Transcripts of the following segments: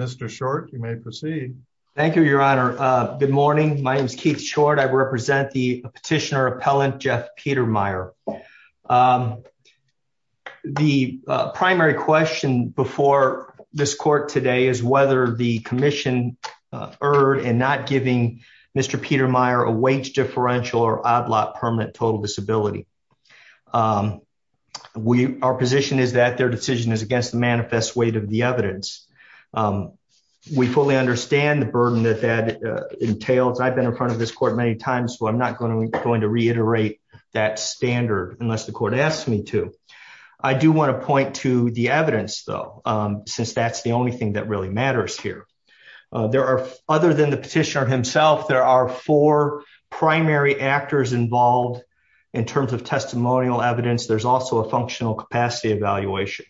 Mr Short, you may proceed. Thank you, Your Honor. Good morning. My name is Keith Short. I represent the petitioner appellant Jeff Petermeyer. The primary question before this court today is whether the commission erred in not giving Mr. Petermeyer a wage differential or odd lot permanent total disability. We, our position is that their decision is against the manifest weight of the evidence. We fully understand the burden that that entails. I've been in front of this court many times, so I'm not going to going to reiterate that standard unless the court asked me to. I do want to point to the evidence, though, since that's the only thing that really matters here. There are other than the petitioner himself, there are four primary actors involved in terms of testimonial evidence. There's also a functional capacity evaluation.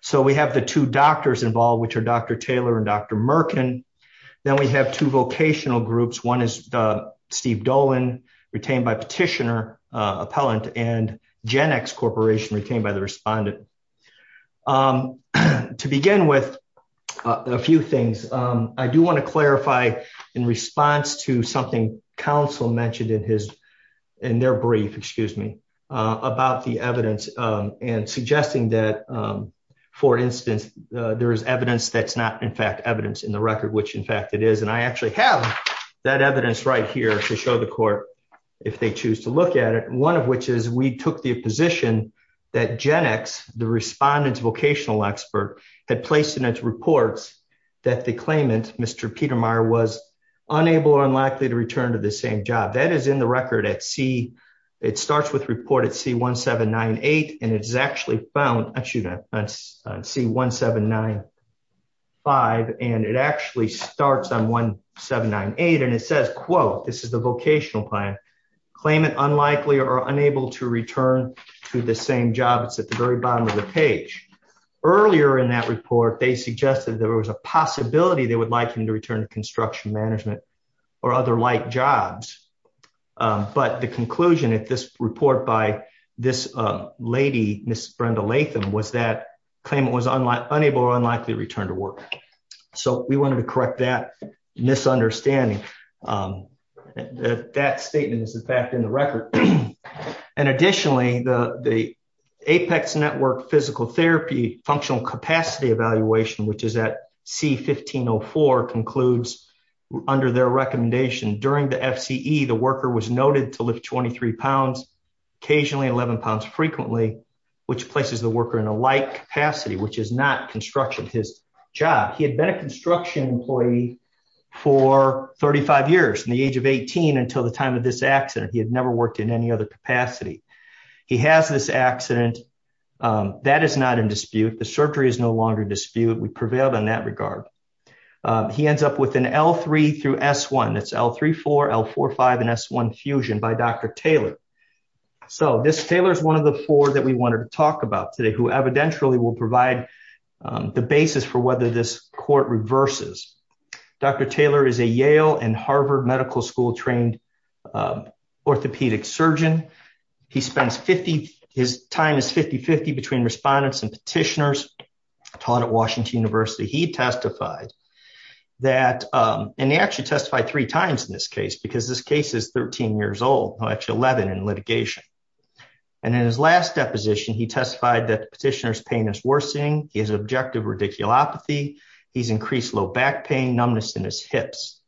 So we have the two doctors involved, which are Dr. Taylor and Dr. Merkin. Then we have two vocational groups. One is Steve Dolan, retained by petitioner appellant and Gen X Corporation retained by the respondent. To begin with a few things, I do want to clarify in response to something council mentioned in his in their brief, excuse me, about the evidence and suggesting that, for instance, there is evidence that's not in fact evidence in the record, which in fact it is. And I actually have that evidence right here to show the court if they choose to look at it, one of which is we took the position that Gen X, the respondents vocational expert, had placed in its reports that the claimant, Mr. Peter Meyer was unable or unlikely to return to the same job. That is in the record at C. It starts with report at C1798 and it's actually found on C1795 and it actually starts on 1798 and it says, quote, this is the vocational plan. Claimant unlikely or unable to return to the same job. It's at the very bottom of the page. Earlier in that report, they suggested there was a possibility they would like him to return to construction management or other like jobs. But the conclusion at this report by this lady, Ms. Brenda Latham, was that claimant was unable or unlikely to return to work. So we wanted to correct that misunderstanding. That statement is in fact in the record. And additionally, the Apex Network Physical Therapy Functional Capacity Evaluation, which is at C1504, concludes under their recommendation during the FCE, the worker was noted to lift 23 pounds, occasionally 11 pounds frequently, which places the worker in a light capacity, which is not construction, his job. He had been a construction employee for 35 years, from the age of 18 until the time of this accident. He had never worked in any other capacity. He has this accident. That is not in dispute. The surgery is no longer in dispute. We prevailed in that regard. He ends up with an L3 through S1. That's L3, L4, L5 and S1 fusion by Dr. Taylor. So this Taylor is one of the four that we wanted to talk about today, who evidentially will provide the basis for whether this court reverses. Dr. Taylor is a Yale and Harvard Medical School trained orthopedic surgeon. He spends 50, his time is 50-50 between respondents and petitioners taught at Washington University. He testified that, and he actually testified three times in this case, because this case is 13 years old, actually 11 in litigation. And in his last deposition, he testified that the petitioner's pain is worsening, he has objective radiculopathy, he's increased low back pain, numbness in his hips.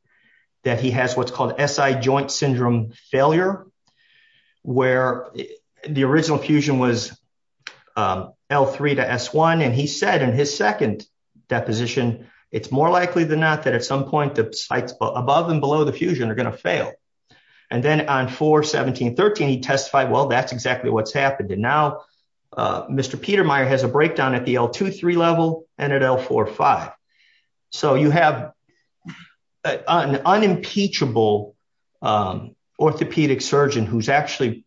That he has what's called SI joint syndrome failure, where the original fusion was L3 to S1. And he said in his second deposition, it's more likely than not that at some point the sites above and below the fusion are going to fail. And then on 4-17-13, he testified, well, that's exactly what's happened. And now, Mr. Petermeyer has a breakdown at the L2-3 level and at L4-5. So you have an unimpeachable orthopedic surgeon who's actually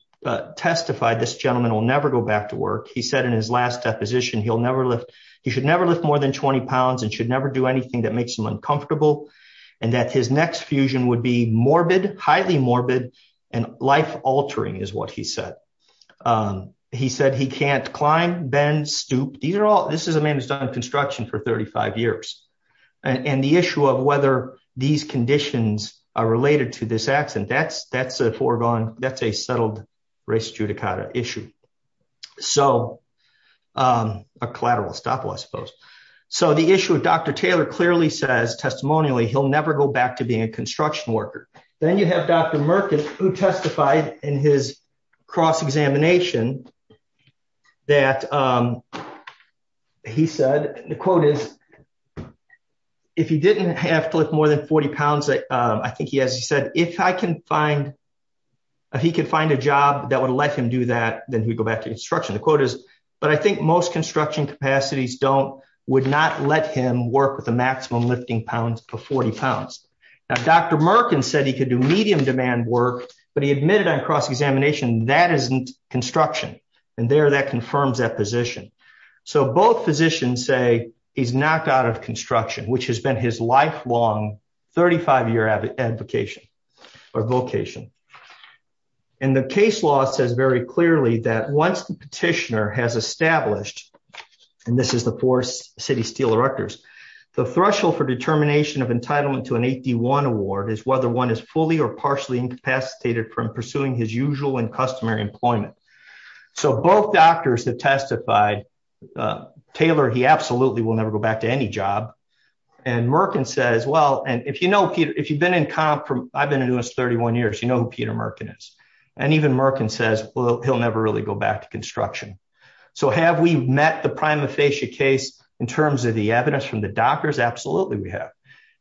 testified this gentleman will never go back to work. He said in his last deposition he'll never lift, he should never lift more than 20 pounds and should never do anything that makes him uncomfortable. And that his next fusion would be morbid, highly morbid, and life altering is what he said. He said he can't climb, bend, stoop. These are all, this is a man who's done construction for 35 years. And the issue of whether these conditions are related to this accident, that's a foregone, that's a settled res judicata issue. So, a collateral estoppel, I suppose. So the issue of Dr. Taylor clearly says, testimonially, he'll never go back to being a construction worker. Then you have Dr. Merkin who testified in his cross-examination that he said, the quote is, if he didn't have to lift more than 40 pounds, I think he has, he said, if I can find, if he could find a job that would let him do that, then he'd go back to construction. The quote is, but I think most construction capacities don't, would not let him work with a maximum lifting pounds of 40 pounds. Now, Dr. Merkin said he could do medium demand work, but he admitted on cross-examination that isn't construction. And there, that confirms that position. So both physicians say he's knocked out of construction, which has been his lifelong 35-year advocation or vocation. And the case law says very clearly that once the petitioner has established, and this is the four city steel directors, the threshold for determination of entitlement to an 8D1 award is whether one is fully or partially incapacitated from pursuing his usual and customary employment. So both doctors have testified, Taylor, he absolutely will never go back to any job. And Merkin says, well, and if you know Peter, if you've been in comp from, I've been in U.S. 31 years, you know who Peter Merkin is. And even Merkin says, well, he'll never really go back to construction. So have we met the prima facie case in terms of the evidence from the doctors? Absolutely we have.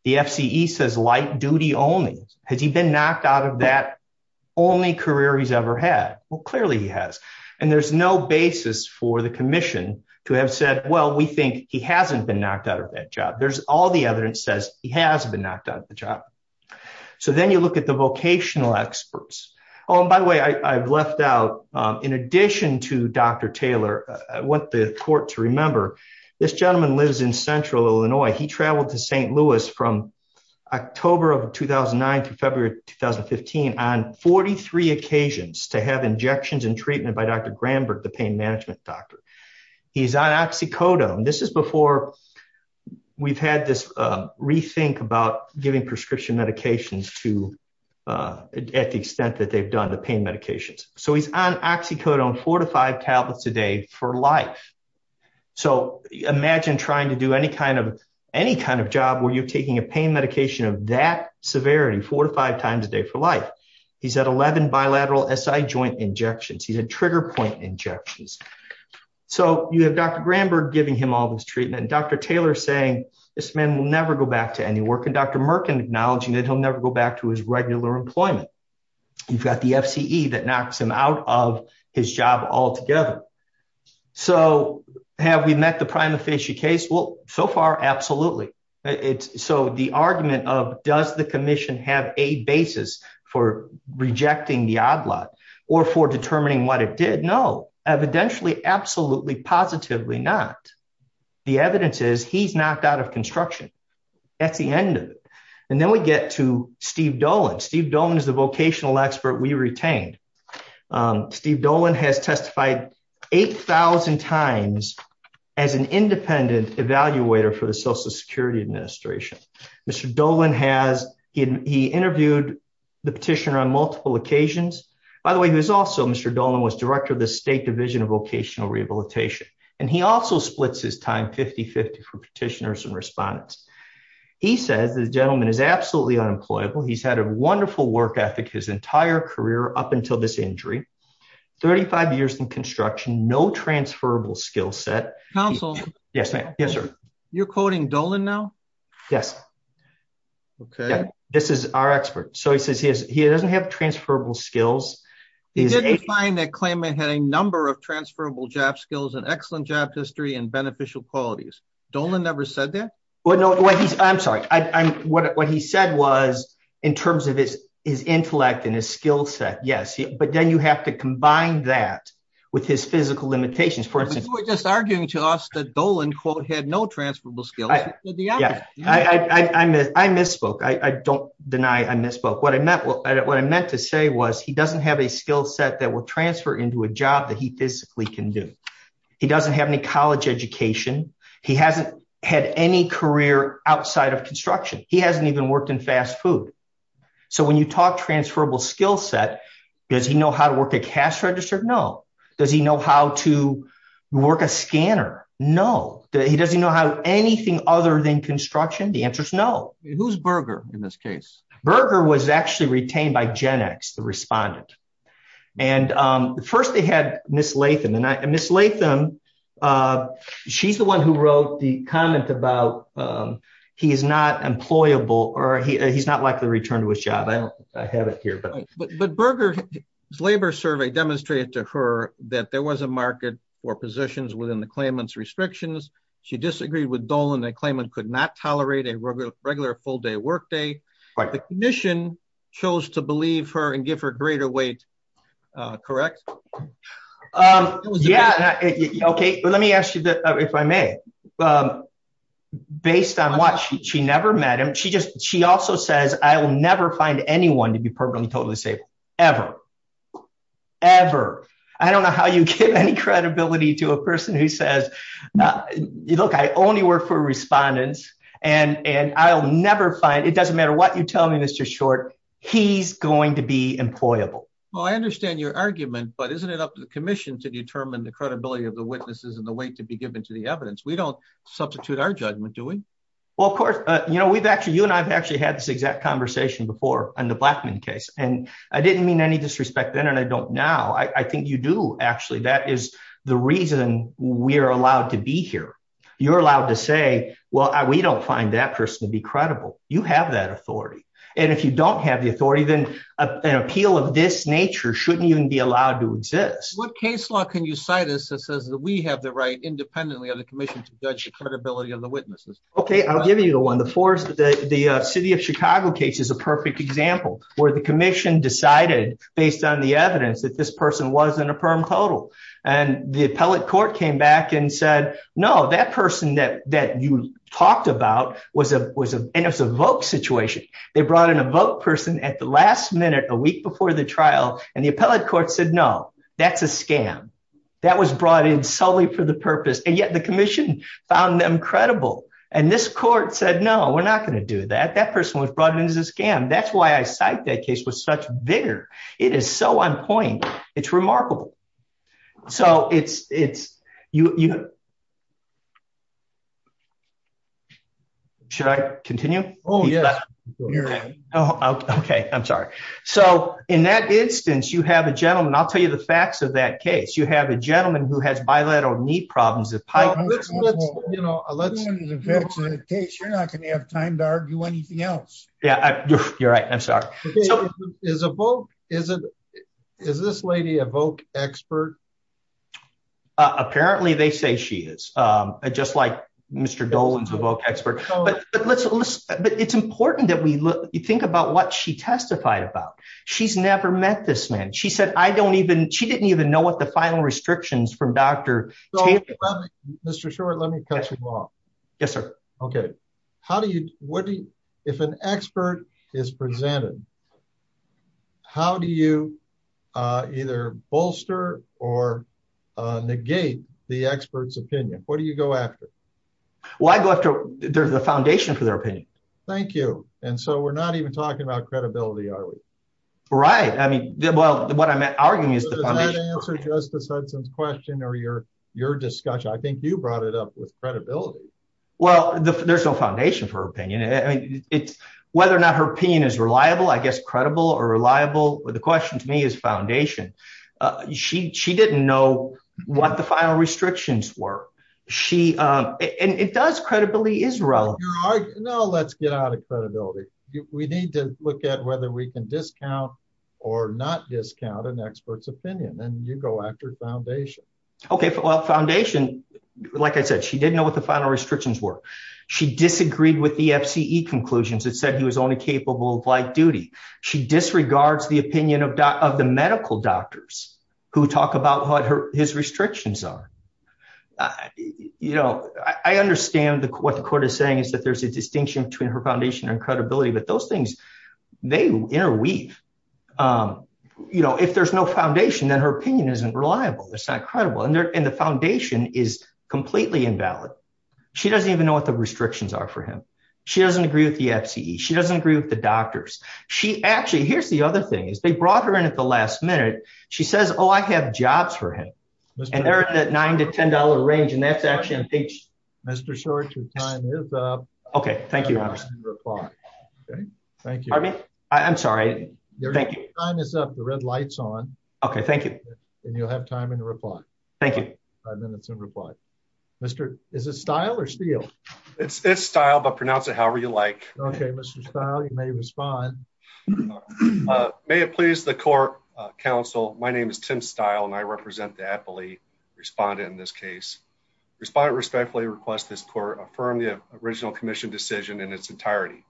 The FCE says light duty only. Has he been knocked out of that only career he's ever had? Well, clearly he has. And there's no basis for the commission to have said, well, we think he hasn't been knocked out of that job. There's all the evidence says he has been knocked out of the job. So then you look at the vocational experts. Oh, and by the way, I've left out in addition to Dr. Taylor, I want the court to remember this gentleman lives in central Illinois. He traveled to St. Louis from October of 2009 to February 2015 on 43 occasions to have injections and treatment by Dr. Granberg, the pain management doctor. He's on oxycodone. This is before we've had this rethink about giving prescription medications to at the extent that they've done the pain medications. So he's on oxycodone four to five tablets a day for life. So imagine trying to do any kind of any kind of job where you're taking a pain medication of that severity four to five times a day for life. He's at 11 bilateral SI joint injections. He's a trigger point injections. So you have Dr. Granberg giving him all this treatment. Dr. Taylor saying this man will never go back to any work and Dr. Merkin acknowledging that he'll never go back to his regular employment. You've got the F.C.E. that knocks him out of his job altogether. So have we met the prima facie case? Well, so far. Absolutely. So the argument of does the commission have a basis for rejecting the odd lot or for determining what it did? No, evidentially. Absolutely. Positively not. The evidence is he's knocked out of construction. That's the end. And then we get to Steve Dolan. Steve Dolan is the vocational expert we retained. Steve Dolan has testified 8000 times as an independent evaluator for the Social Security Administration. Mr. Dolan has he interviewed the petitioner on multiple occasions. By the way, he was also Mr. Dolan was director of the State Division of Vocational Rehabilitation. And he also splits his time 50 50 for petitioners and respondents. He says the gentleman is absolutely unemployable. He's had a wonderful work ethic his entire career up until this injury. 35 years in construction. No transferable skill set. Counsel. Yes, ma'am. Yes, sir. You're quoting Dolan now. Yes. Okay. This is our expert. So he says he doesn't have transferable skills. He's a client that claimant had a number of transferable job skills and excellent job history and beneficial qualities. Dolan never said that. Well, no, I'm sorry. I'm what he said was, in terms of his, his intellect and his skill set. Yes. But then you have to combine that with his physical limitations. For instance, we're just arguing to us that Dolan quote had no transferable skill. I misspoke. I don't deny I misspoke. What I meant. What I meant to say was he doesn't have a skill set that will transfer into a job that he physically can do. He doesn't have any college education. He hasn't had any career outside of construction. He hasn't even worked in fast food. So when you talk transferable skill set, does he know how to work a cash register? No. Does he know how to work a scanner? No. He doesn't know how anything other than construction. The answer is no. Who's Berger in this case? Berger was actually retained by Gen X, the respondent. And first they had Miss Latham. And Miss Latham, she's the one who wrote the comment about he is not employable or he's not likely to return to his job. I have it here. But Berger's labor survey demonstrated to her that there was a market for positions within the claimant's restrictions. She disagreed with Dolan. The claimant could not tolerate a regular full day workday. The commission chose to believe her and give her greater weight. Correct? Yeah. Okay. Let me ask you if I may. Based on what? She never met him. She just she also says I will never find anyone to be permanently totally safe ever. Ever. I don't know how you give any credibility to a person who says, look, I only work for respondents and I'll never find it doesn't matter what you tell me, Mr. Short. He's going to be employable. Well, I understand your argument, but isn't it up to the commission to determine the credibility of the witnesses and the weight to be given to the evidence? We don't substitute our judgment, do we? Well, of course, you know, we've actually you and I've actually had this exact conversation before on the Blackman case. And I didn't mean any disrespect then. And I don't now. I think you do. Actually, that is the reason we are allowed to be here. You're allowed to say, well, we don't find that person to be credible. You have that authority. And if you don't have the authority, then an appeal of this nature shouldn't even be allowed to exist. What case law can you cite us that says that we have the right independently of the commission to judge the credibility of the witnesses? OK, I'll give you the one. The force that the city of Chicago case is a perfect example where the commission decided based on the evidence that this person wasn't a perm total. And the appellate court came back and said, no, that person that that you talked about was a was a it was a vote situation. They brought in a vote person at the last minute, a week before the trial. And the appellate court said, no, that's a scam. That was brought in solely for the purpose. And yet the commission found them credible. And this court said, no, we're not going to do that. That person was brought in as a scam. That's why I cite that case was such vigor. It is so on point. It's remarkable. So it's it's you. Should I continue? Oh, yeah. Oh, OK. I'm sorry. So in that instance, you have a gentleman. I'll tell you the facts of that case. You have a gentleman who has bilateral knee problems. You know, you're not going to have time to argue anything else. Yeah, you're right. I'm sorry. Is a vote. Is it is this lady a vote expert? Apparently, they say she is just like Mr. Dolan's a vote expert. But it's important that we think about what she testified about. She's never met this man. She said, I don't even she didn't even know what the final restrictions from Dr. Mr. Short, let me cut you off. Yes, sir. OK, how do you what do you if an expert is presented? How do you either bolster or negate the expert's opinion? What do you go after? Well, I go after the foundation for their opinion. Thank you. And so we're not even talking about credibility, are we? Right. I mean, well, what I'm arguing is the answer to this question or your your discussion. I think you brought it up with credibility. Well, there's no foundation for opinion. I mean, it's whether or not her opinion is reliable, I guess, credible or reliable. The question to me is foundation. She she didn't know what the final restrictions were. She and it does. Credibility is relevant. No, let's get out of credibility. We need to look at whether we can discount or not discount an expert's opinion. And you go after foundation. OK, well, foundation, like I said, she didn't know what the final restrictions were. She disagreed with the FCE conclusions. It said he was only capable of light duty. She disregards the opinion of the medical doctors who talk about what his restrictions are. You know, I understand what the court is saying is that there's a distinction between her foundation and credibility. But those things may interweave. You know, if there's no foundation, then her opinion isn't reliable. It's not credible. And the foundation is completely invalid. She doesn't even know what the restrictions are for him. She doesn't agree with the FCE. She doesn't agree with the doctors. She actually here's the other thing is they brought her in at the last minute. She says, oh, I have jobs for him. And they're in that nine to ten dollar range. And that's actually Mr. Short, your time is up. OK, thank you. OK, thank you. I mean, I'm sorry. Thank you. Time is up. The red lights on. OK, thank you. And you'll have time and reply. Thank you. Five minutes in reply. Mr. Is it style or steel? It's style, but pronounce it however you like. OK, Mr. Style, you may respond. May it please the court. Counsel, my name is Tim Style and I represent the athlete respondent in this case. Respondent respectfully request this court affirm the original commission decision in its entirety.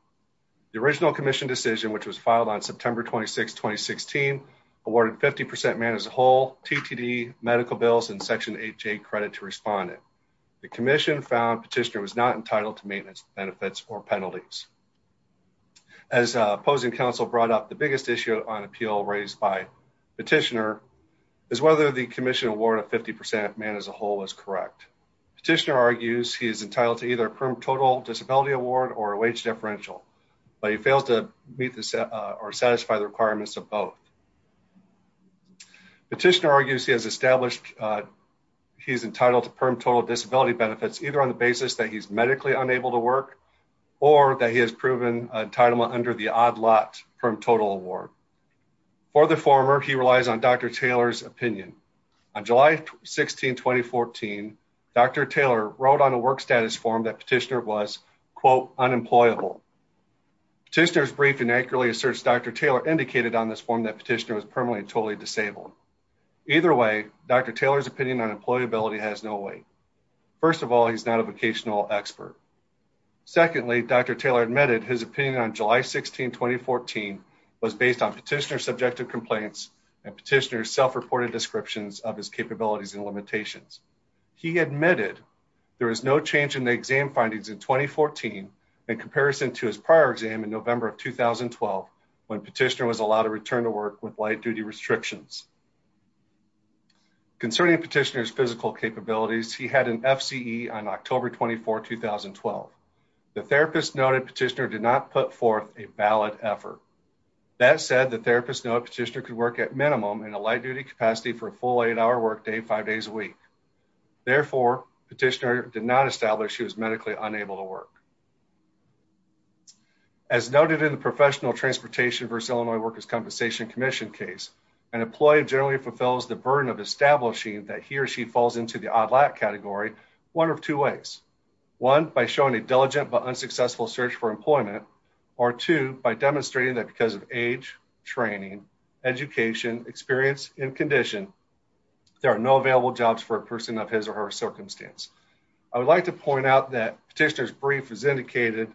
The original commission decision, which was filed on September 26, 2016, awarded 50 percent man as a whole. T.T.D. medical bills and Section 8 credit to respond. The commission found petitioner was not entitled to maintenance benefits or penalties. As opposing counsel brought up, the biggest issue on appeal raised by petitioner is whether the commission award of 50 percent man as a whole is correct. Petitioner argues he is entitled to either a total disability award or a wage differential, but he fails to meet or satisfy the requirements of both. Petitioner argues he has established he's entitled to perm total disability benefits, either on the basis that he's medically unable to work or that he has proven entitlement under the odd lot from total award. For the former, he relies on Dr. Taylor's opinion on July 16, 2014. Dr. Taylor wrote on a work status form that petitioner was, quote, unemployable. Tester's briefing accurately asserts Dr. Taylor indicated on this form that petitioner was permanently and totally disabled. Either way, Dr. Taylor's opinion on employability has no weight. First of all, he's not a vocational expert. Secondly, Dr. Taylor admitted his opinion on July 16, 2014 was based on petitioner's subjective complaints and petitioner's self-reported descriptions of his capabilities and limitations. He admitted there was no change in the exam findings in 2014 in comparison to his prior exam in November of 2012 when petitioner was allowed to return to work with light duty restrictions. Concerning petitioner's physical capabilities, he had an FCE on October 24, 2012. The therapist noted petitioner did not put forth a valid effort. That said, the therapist noted petitioner could work at minimum in a light duty capacity for a full eight hour work day, five days a week. Therefore, petitioner did not establish he was medically unable to work. As noted in the Professional Transportation versus Illinois Workers' Compensation Commission case, an employee generally fulfills the burden of establishing that he or she falls into the odd lot category one of two ways. One, by showing a diligent but unsuccessful search for employment. Or two, by demonstrating that because of age, training, education, experience and condition, there are no available jobs for a person of his or her circumstance. I would like to point out that petitioner's brief has indicated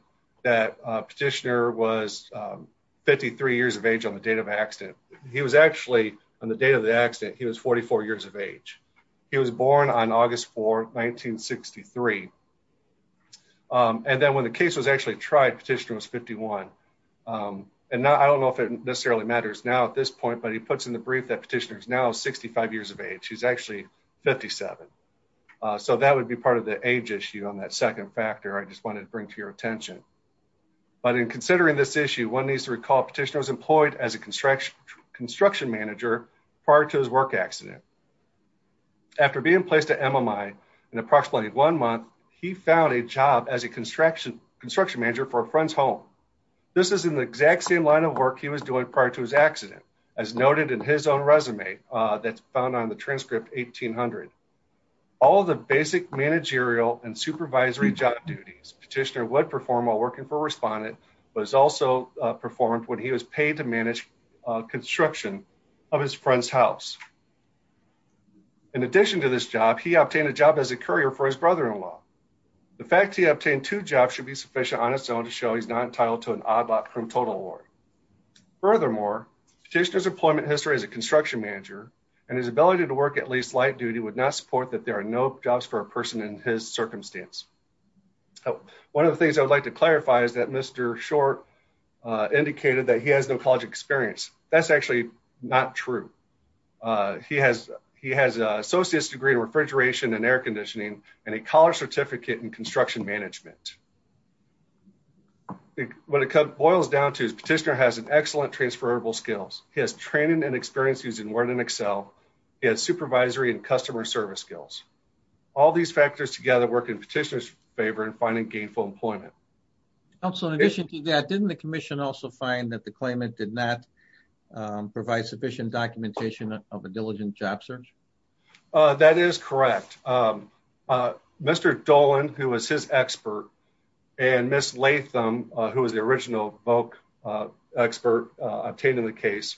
that petitioner was 53 years of age on the date of accident. He was actually, on the date of the accident, he was 44 years of age. He was born on August 4, 1963. And then when the case was actually tried, petitioner was 51. And I don't know if it necessarily matters now at this point, but he puts in the brief that petitioner is now 65 years of age. He's actually 57. So that would be part of the age issue on that second factor I just wanted to bring to your attention. But in considering this issue, one needs to recall petitioner was employed as a construction manager prior to his work accident. After being placed at MMI in approximately one month, he found a job as a construction manager for a friend's home. This is in the exact same line of work he was doing prior to his accident. As noted in his own resume, that's found on the transcript 1800. All the basic managerial and supervisory job duties petitioner would perform while working for respondent was also performed when he was paid to manage construction of his friend's house. In addition to this job, he obtained a job as a courier for his brother in law. The fact he obtained two jobs should be sufficient on its own to show he's not entitled to an odd lot from total award. Furthermore, petitioner's employment history as a construction manager and his ability to work at least light duty would not support that there are no jobs for a person in his circumstance. One of the things I would like to clarify is that Mr. Short indicated that he has no college experience. That's actually not true. He has he has an associate's degree in refrigeration and air conditioning and a college certificate in construction management. What it boils down to is petitioner has an excellent transferable skills. He has training and experience using Word and Excel. He has supervisory and customer service skills. All these factors together work in petitioner's favor in finding gainful employment. Also, in addition to that, didn't the commission also find that the claimant did not provide sufficient documentation of a diligent job search? That is correct. Mr. Dolan, who was his expert, and Ms. Latham, who was the original VOC expert obtaining the case,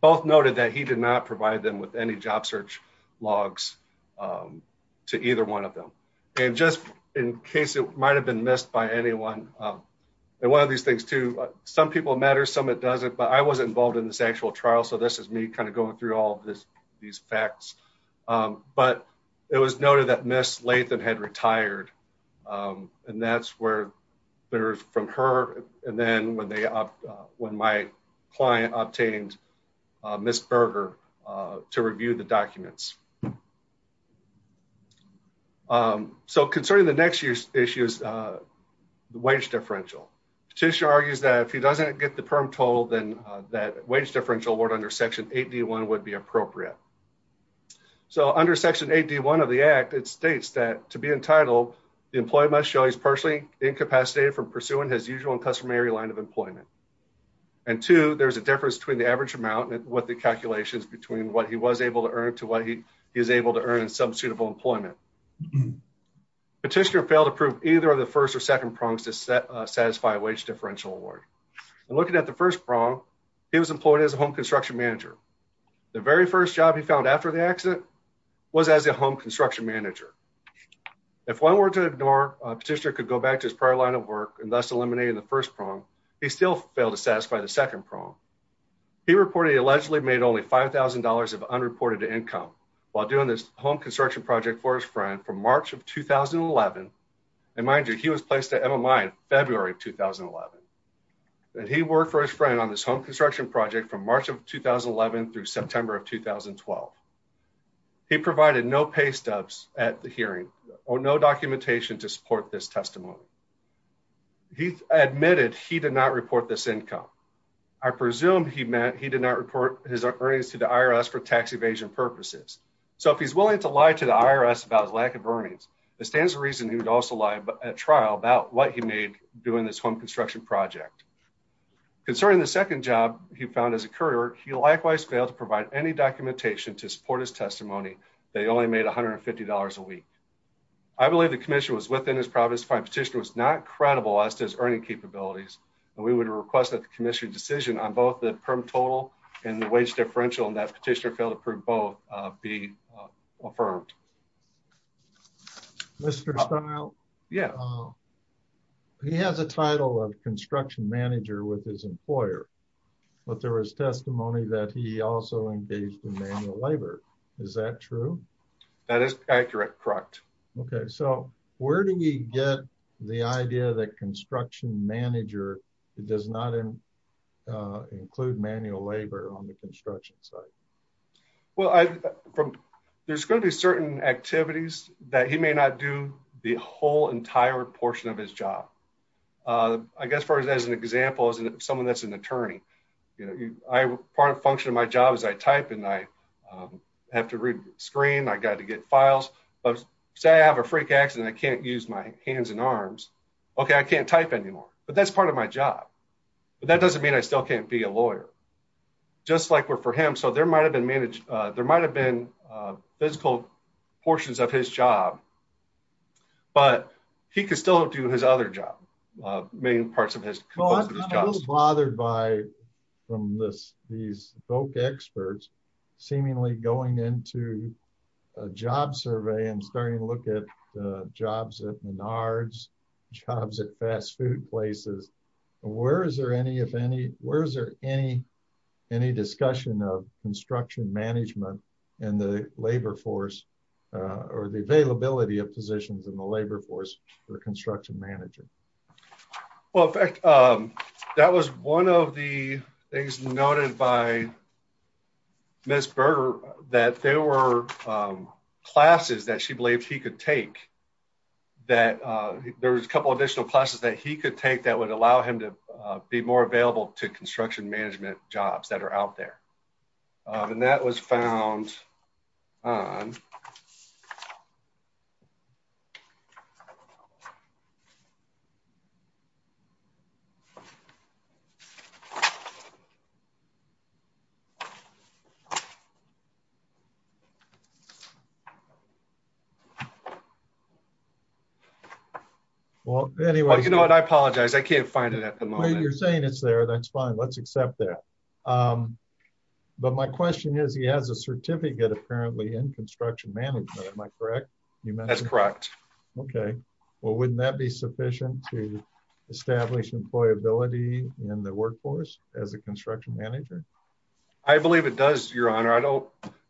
both noted that he did not provide them with any job search logs to either one of them. And just in case it might have been missed by anyone. And one of these things, too, some people matter, some it doesn't. But I wasn't involved in this actual trial. So this is me kind of going through all of this, these facts. But it was noted that Ms. Latham had retired. And that's where there's from her. And then when they when my client obtained Ms. Berger to review the documents. So concerning the next year's issue is the wage differential. Petitioner argues that if he doesn't get the perm total, then that wage differential award under section 81 would be appropriate. So under section 81 of the act, it states that to be entitled, the employee must show he's personally incapacitated from pursuing his usual and customary line of employment. And two, there's a difference between the average amount and what the calculations between what he was able to earn to what he is able to earn in some suitable employment. Petitioner failed to prove either of the first or second prongs to satisfy wage differential award. And looking at the first prong, he was employed as a home construction manager. The very first job he found after the accident was as a home construction manager. If one were to ignore, Petitioner could go back to his prior line of work and thus eliminating the first prong, he still failed to satisfy the second prong. He reported he allegedly made only $5,000 of unreported income while doing this home construction project for his friend from March of 2011. And mind you, he was placed at MMI in February of 2011. And he worked for his friend on this home construction project from March of 2011 through September of 2012. He provided no pay stubs at the hearing or no documentation to support this testimony. He admitted he did not report this income. I presume he meant he did not report his earnings to the IRS for tax evasion purposes. So if he's willing to lie to the IRS about his lack of earnings, it stands to reason he would also lie at trial about what he made doing this home construction project. Concerning the second job he found as a courier, he likewise failed to provide any documentation to support his testimony. They only made $150 a week. I believe the commission was within his province. Petitioner was not credible as to his earning capabilities. And we would request that the commission decision on both the perm total and the wage differential and that petitioner fail to prove both be affirmed. Mr. Stile? Yeah. He has a title of construction manager with his employer. But there was testimony that he also engaged in manual labor. Is that true? That is accurate, correct. Okay. So where do we get the idea that construction manager does not include manual labor on the construction site? Well, there's going to be certain activities that he may not do the whole entire portion of his job. I guess as far as an example, as someone that's an attorney, you know, part of the function of my job is I type and I have to read the screen. I got to get files. Say I have a freak accident and I can't use my hands and arms. Okay. I can't type anymore. But that's part of my job. But that doesn't mean I still can't be a lawyer. Just like for him. So there might have been physical portions of his job. But he could still do his other job. Many parts of his job. I'm a little bothered by these folk experts seemingly going into a job survey and starting to look at jobs at Menards, jobs at fast food places. Where is there any, if any, where is there any, any discussion of construction management and the labor force or the availability of positions in the labor force or construction manager? Well, that was one of the things noted by Miss Berger that there were classes that she believed he could take. That there was a couple additional classes that he could take that would allow him to be more available to construction management jobs that are out there. And that was found on. Well, anyway, you know what, I apologize. I can't find it at the moment. You're saying it's there. That's fine. Let's accept that. But my question is, he has a certificate apparently in construction management. Am I correct? That's correct. Okay. Well, wouldn't that be sufficient to establish employability in the workforce as a construction manager? I believe it does, Your Honor.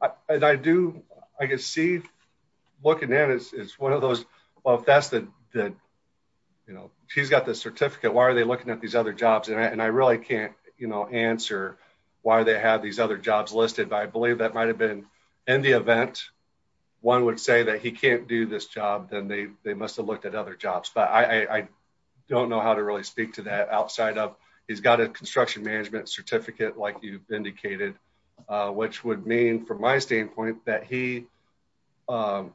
I do. I can see looking at it is one of those. Well, if that's the, you know, he's got the certificate, why are they looking at these other jobs? And I really can't answer why they have these other jobs listed. But I believe that might have been in the event. One would say that he can't do this job, then they must have looked at other jobs. But I don't know how to really speak to that outside of he's got a construction management certificate. Like you've indicated, which would mean from my standpoint, that he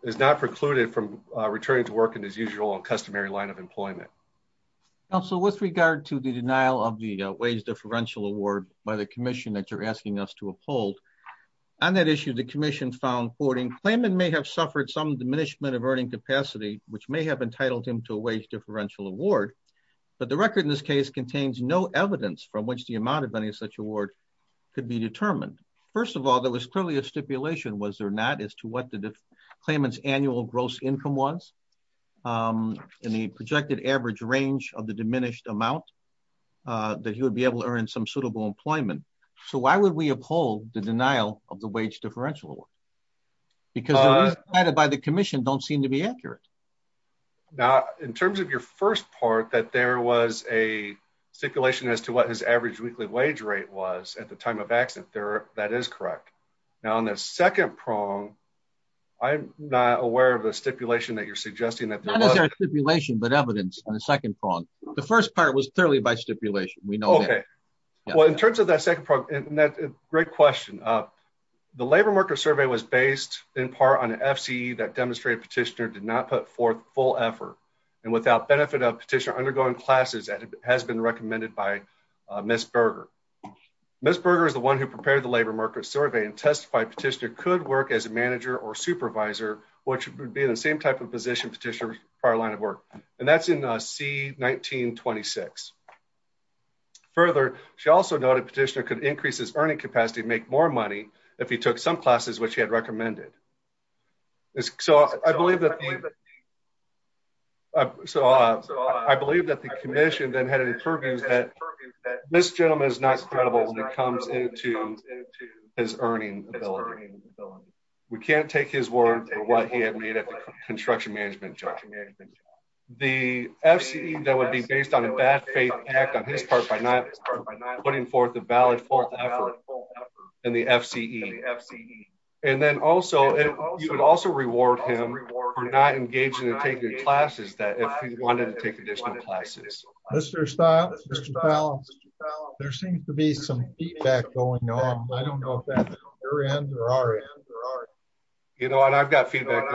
is not precluded from returning to work in his usual customary line of employment. Also, with regard to the denial of the wage differential award by the commission that you're asking us to uphold on that issue, the commission found 40 claimant may have suffered some diminishment of earning capacity, which may have entitled him to a wage differential award. But the record in this case contains no evidence from which the amount of any such award could be determined. First of all, there was clearly a stipulation, was there not, as to what the claimant's annual gross income was, and the projected average range of the diminished amount that he would be able to earn some suitable employment. So why would we uphold the denial of the wage differential award? Because the reasons cited by the commission don't seem to be accurate. Now, in terms of your first part, that there was a stipulation as to what his average weekly wage rate was at the time of accident, that is correct. Now, on the second prong, I'm not aware of the stipulation that you're suggesting that there was. Not stipulation, but evidence on the second prong. The first part was clearly by stipulation, we know that. Well, in terms of that second part, great question. The labor market survey was based in part on an FCE that demonstrated petitioner did not put forth full effort and without benefit of petitioner undergoing classes that has been recommended by Ms. Berger. Ms. Berger is the one who prepared the labor market survey and testified petitioner could work as a manager or supervisor, which would be in the same type of position petitioner's prior line of work. And that's in C-1926. Further, she also noted petitioner could increase his earning capacity to make more money if he took some classes which he had recommended. So, I believe that the commission then had an interview that Ms. Berger is not credible when it comes into his earning ability. We can't take his word for what he had made at the construction management job. The FCE that would be based on a bad faith act on his part by not putting forth a valid full effort in the FCE. And then also, you would also reward him for not engaging and taking classes that if he wanted to take additional classes. Mr. Stiles, Mr. Fallon, there seems to be some feedback going on. I don't know if that's your end or our end. You know what, I've got feedback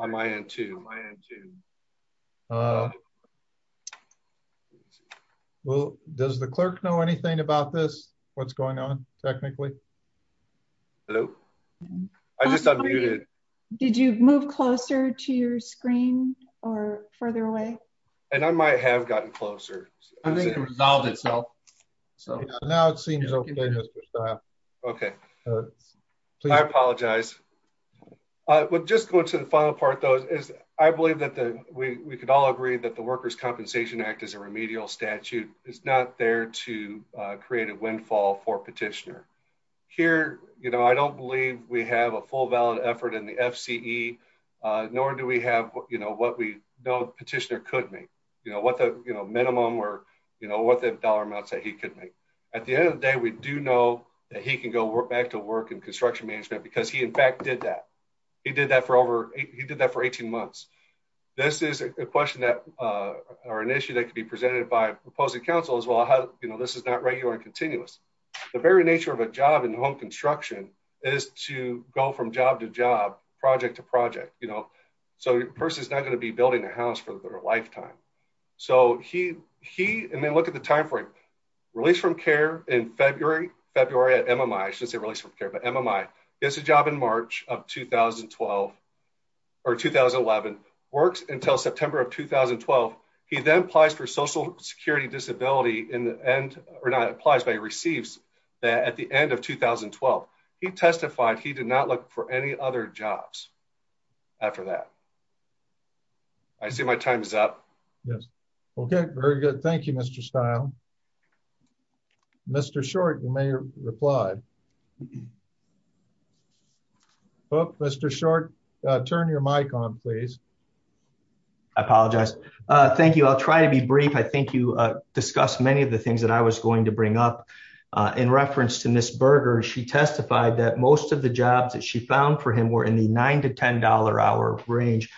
on my end too. Well, does the clerk know anything about this? What's going on technically? Hello. I just unmuted. Did you move closer to your screen or further away? And I might have gotten closer. Resolved itself. So now it seems okay. Okay. I apologize. I would just go to the final part, though, is I believe that we could all agree that the workers Compensation Act is a remedial statute is not there to create a windfall for petitioner here. You know, I don't believe we have a full valid effort in the FCE, nor do we have, you know what we know petitioner could make you know what the minimum or, you know what the dollar amounts that he could make. At the end of the day, we do know that he can go back to work in construction management because he in fact did that. He did that for over, he did that for 18 months. This is a question that are an issue that can be presented by opposing counsel as well how you know this is not regular and continuous. The very nature of a job in home construction is to go from job to job, project to project, you know, so the person is not going to be building a house for their lifetime. So, he, he, and then look at the timeframe, released from care in February, February at MMI since they released from care but MMI is a job in March of 2012 or 2011 works until September of 2012. He then applies for social security disability in the end, or not applies by receives that at the end of 2012, he testified he did not look for any other jobs. After that. I see my time is up. Yes. Okay, very good. Thank you, Mr style. Mr short you may reply. Mr short. Turn your mic on, please. I apologize. Thank you. I'll try to be brief I think you discussed many of the things that I was going to bring up in reference to Miss burger she testified that most of the jobs that she found for him were in the nine to $10 hour range.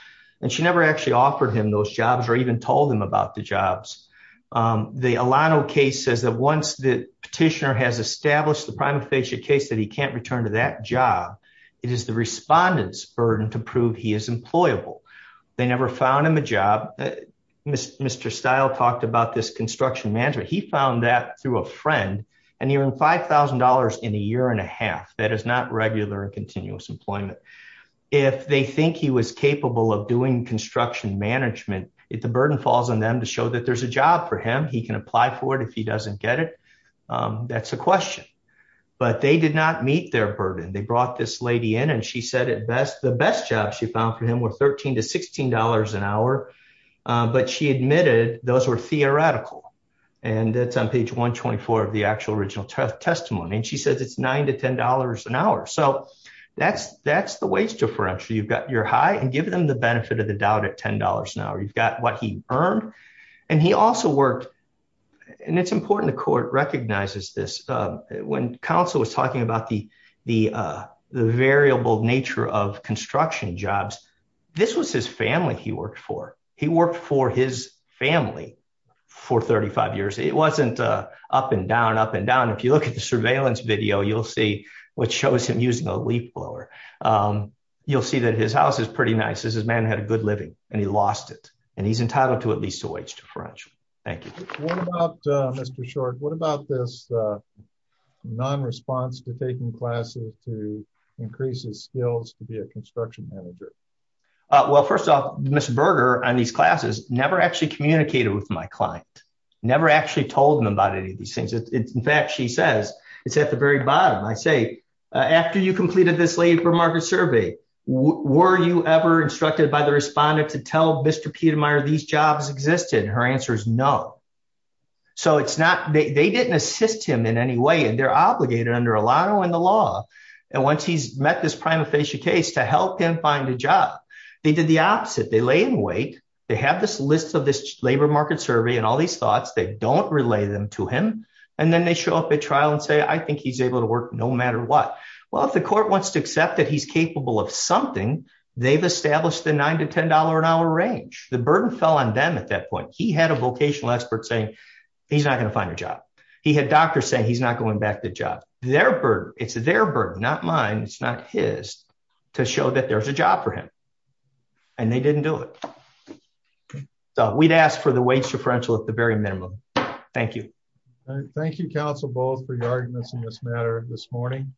And she never actually offered him those jobs or even told him about the jobs. The Alano case says that once the petitioner has established the primary patient case that he can't return to that job. It is the respondents burden to prove he is employable. They never found him a job. Mr. Mr style talked about this construction manager he found that through a friend, and he earned $5,000 in a year and a half that is not regular continuous employment. If they think he was capable of doing construction management, it the burden falls on them to show that there's a job for him he can apply for it if he doesn't get it. That's a question. But they did not meet their burden they brought this lady in and she said it best the best job she found for him with 13 to $16 an hour. But she admitted, those were theoretical, and that's on page 124 of the actual original testimony and she says it's nine to $10 an hour so that's that's the wage differential you've got your high and give them the benefit of the doubt at $10 an hour you've got what he earned. And he also worked. And it's important to court recognizes this. When counsel was talking about the, the, the variable nature of construction jobs. This was his family he worked for he worked for his family for 35 years it wasn't up and down up and down if you look at the surveillance video you'll see what shows him using a leaf blower. You'll see that his house is pretty nice as his man had a good living, and he lost it, and he's entitled to at least a wage differential. Thank you. Mr short What about this non response to taking classes to increase his skills to be a construction manager. Well first off, Mr burger on these classes, never actually communicated with my client never actually told him about any of these things. In fact, she says it's at the very bottom I say, after you completed this labor market survey, were you ever instructed by the respondent to tell Mr Peter Meyer these jobs existed her answers no. So it's not they didn't assist him in any way and they're obligated under a lot of in the law. And once he's met this prima facie case to help him find a job. They did the opposite they lay in wait, they have this list of this labor market survey and all these thoughts they don't relay them to him. And then they show up at trial and say I think he's able to work, no matter what. Well, if the court wants to accept that he's capable of something they've established the nine to $10 an hour range, the burden fell on them at that point he had a vocational expert saying he's not going to find a job. He had doctors say he's not going back to job, their bird, it's their bird not mine it's not his to show that there's a job for him. And they didn't do it. We'd asked for the wage differential at the very minimum. Thank you. Thank you counsel both for your arguments in this matter this morning.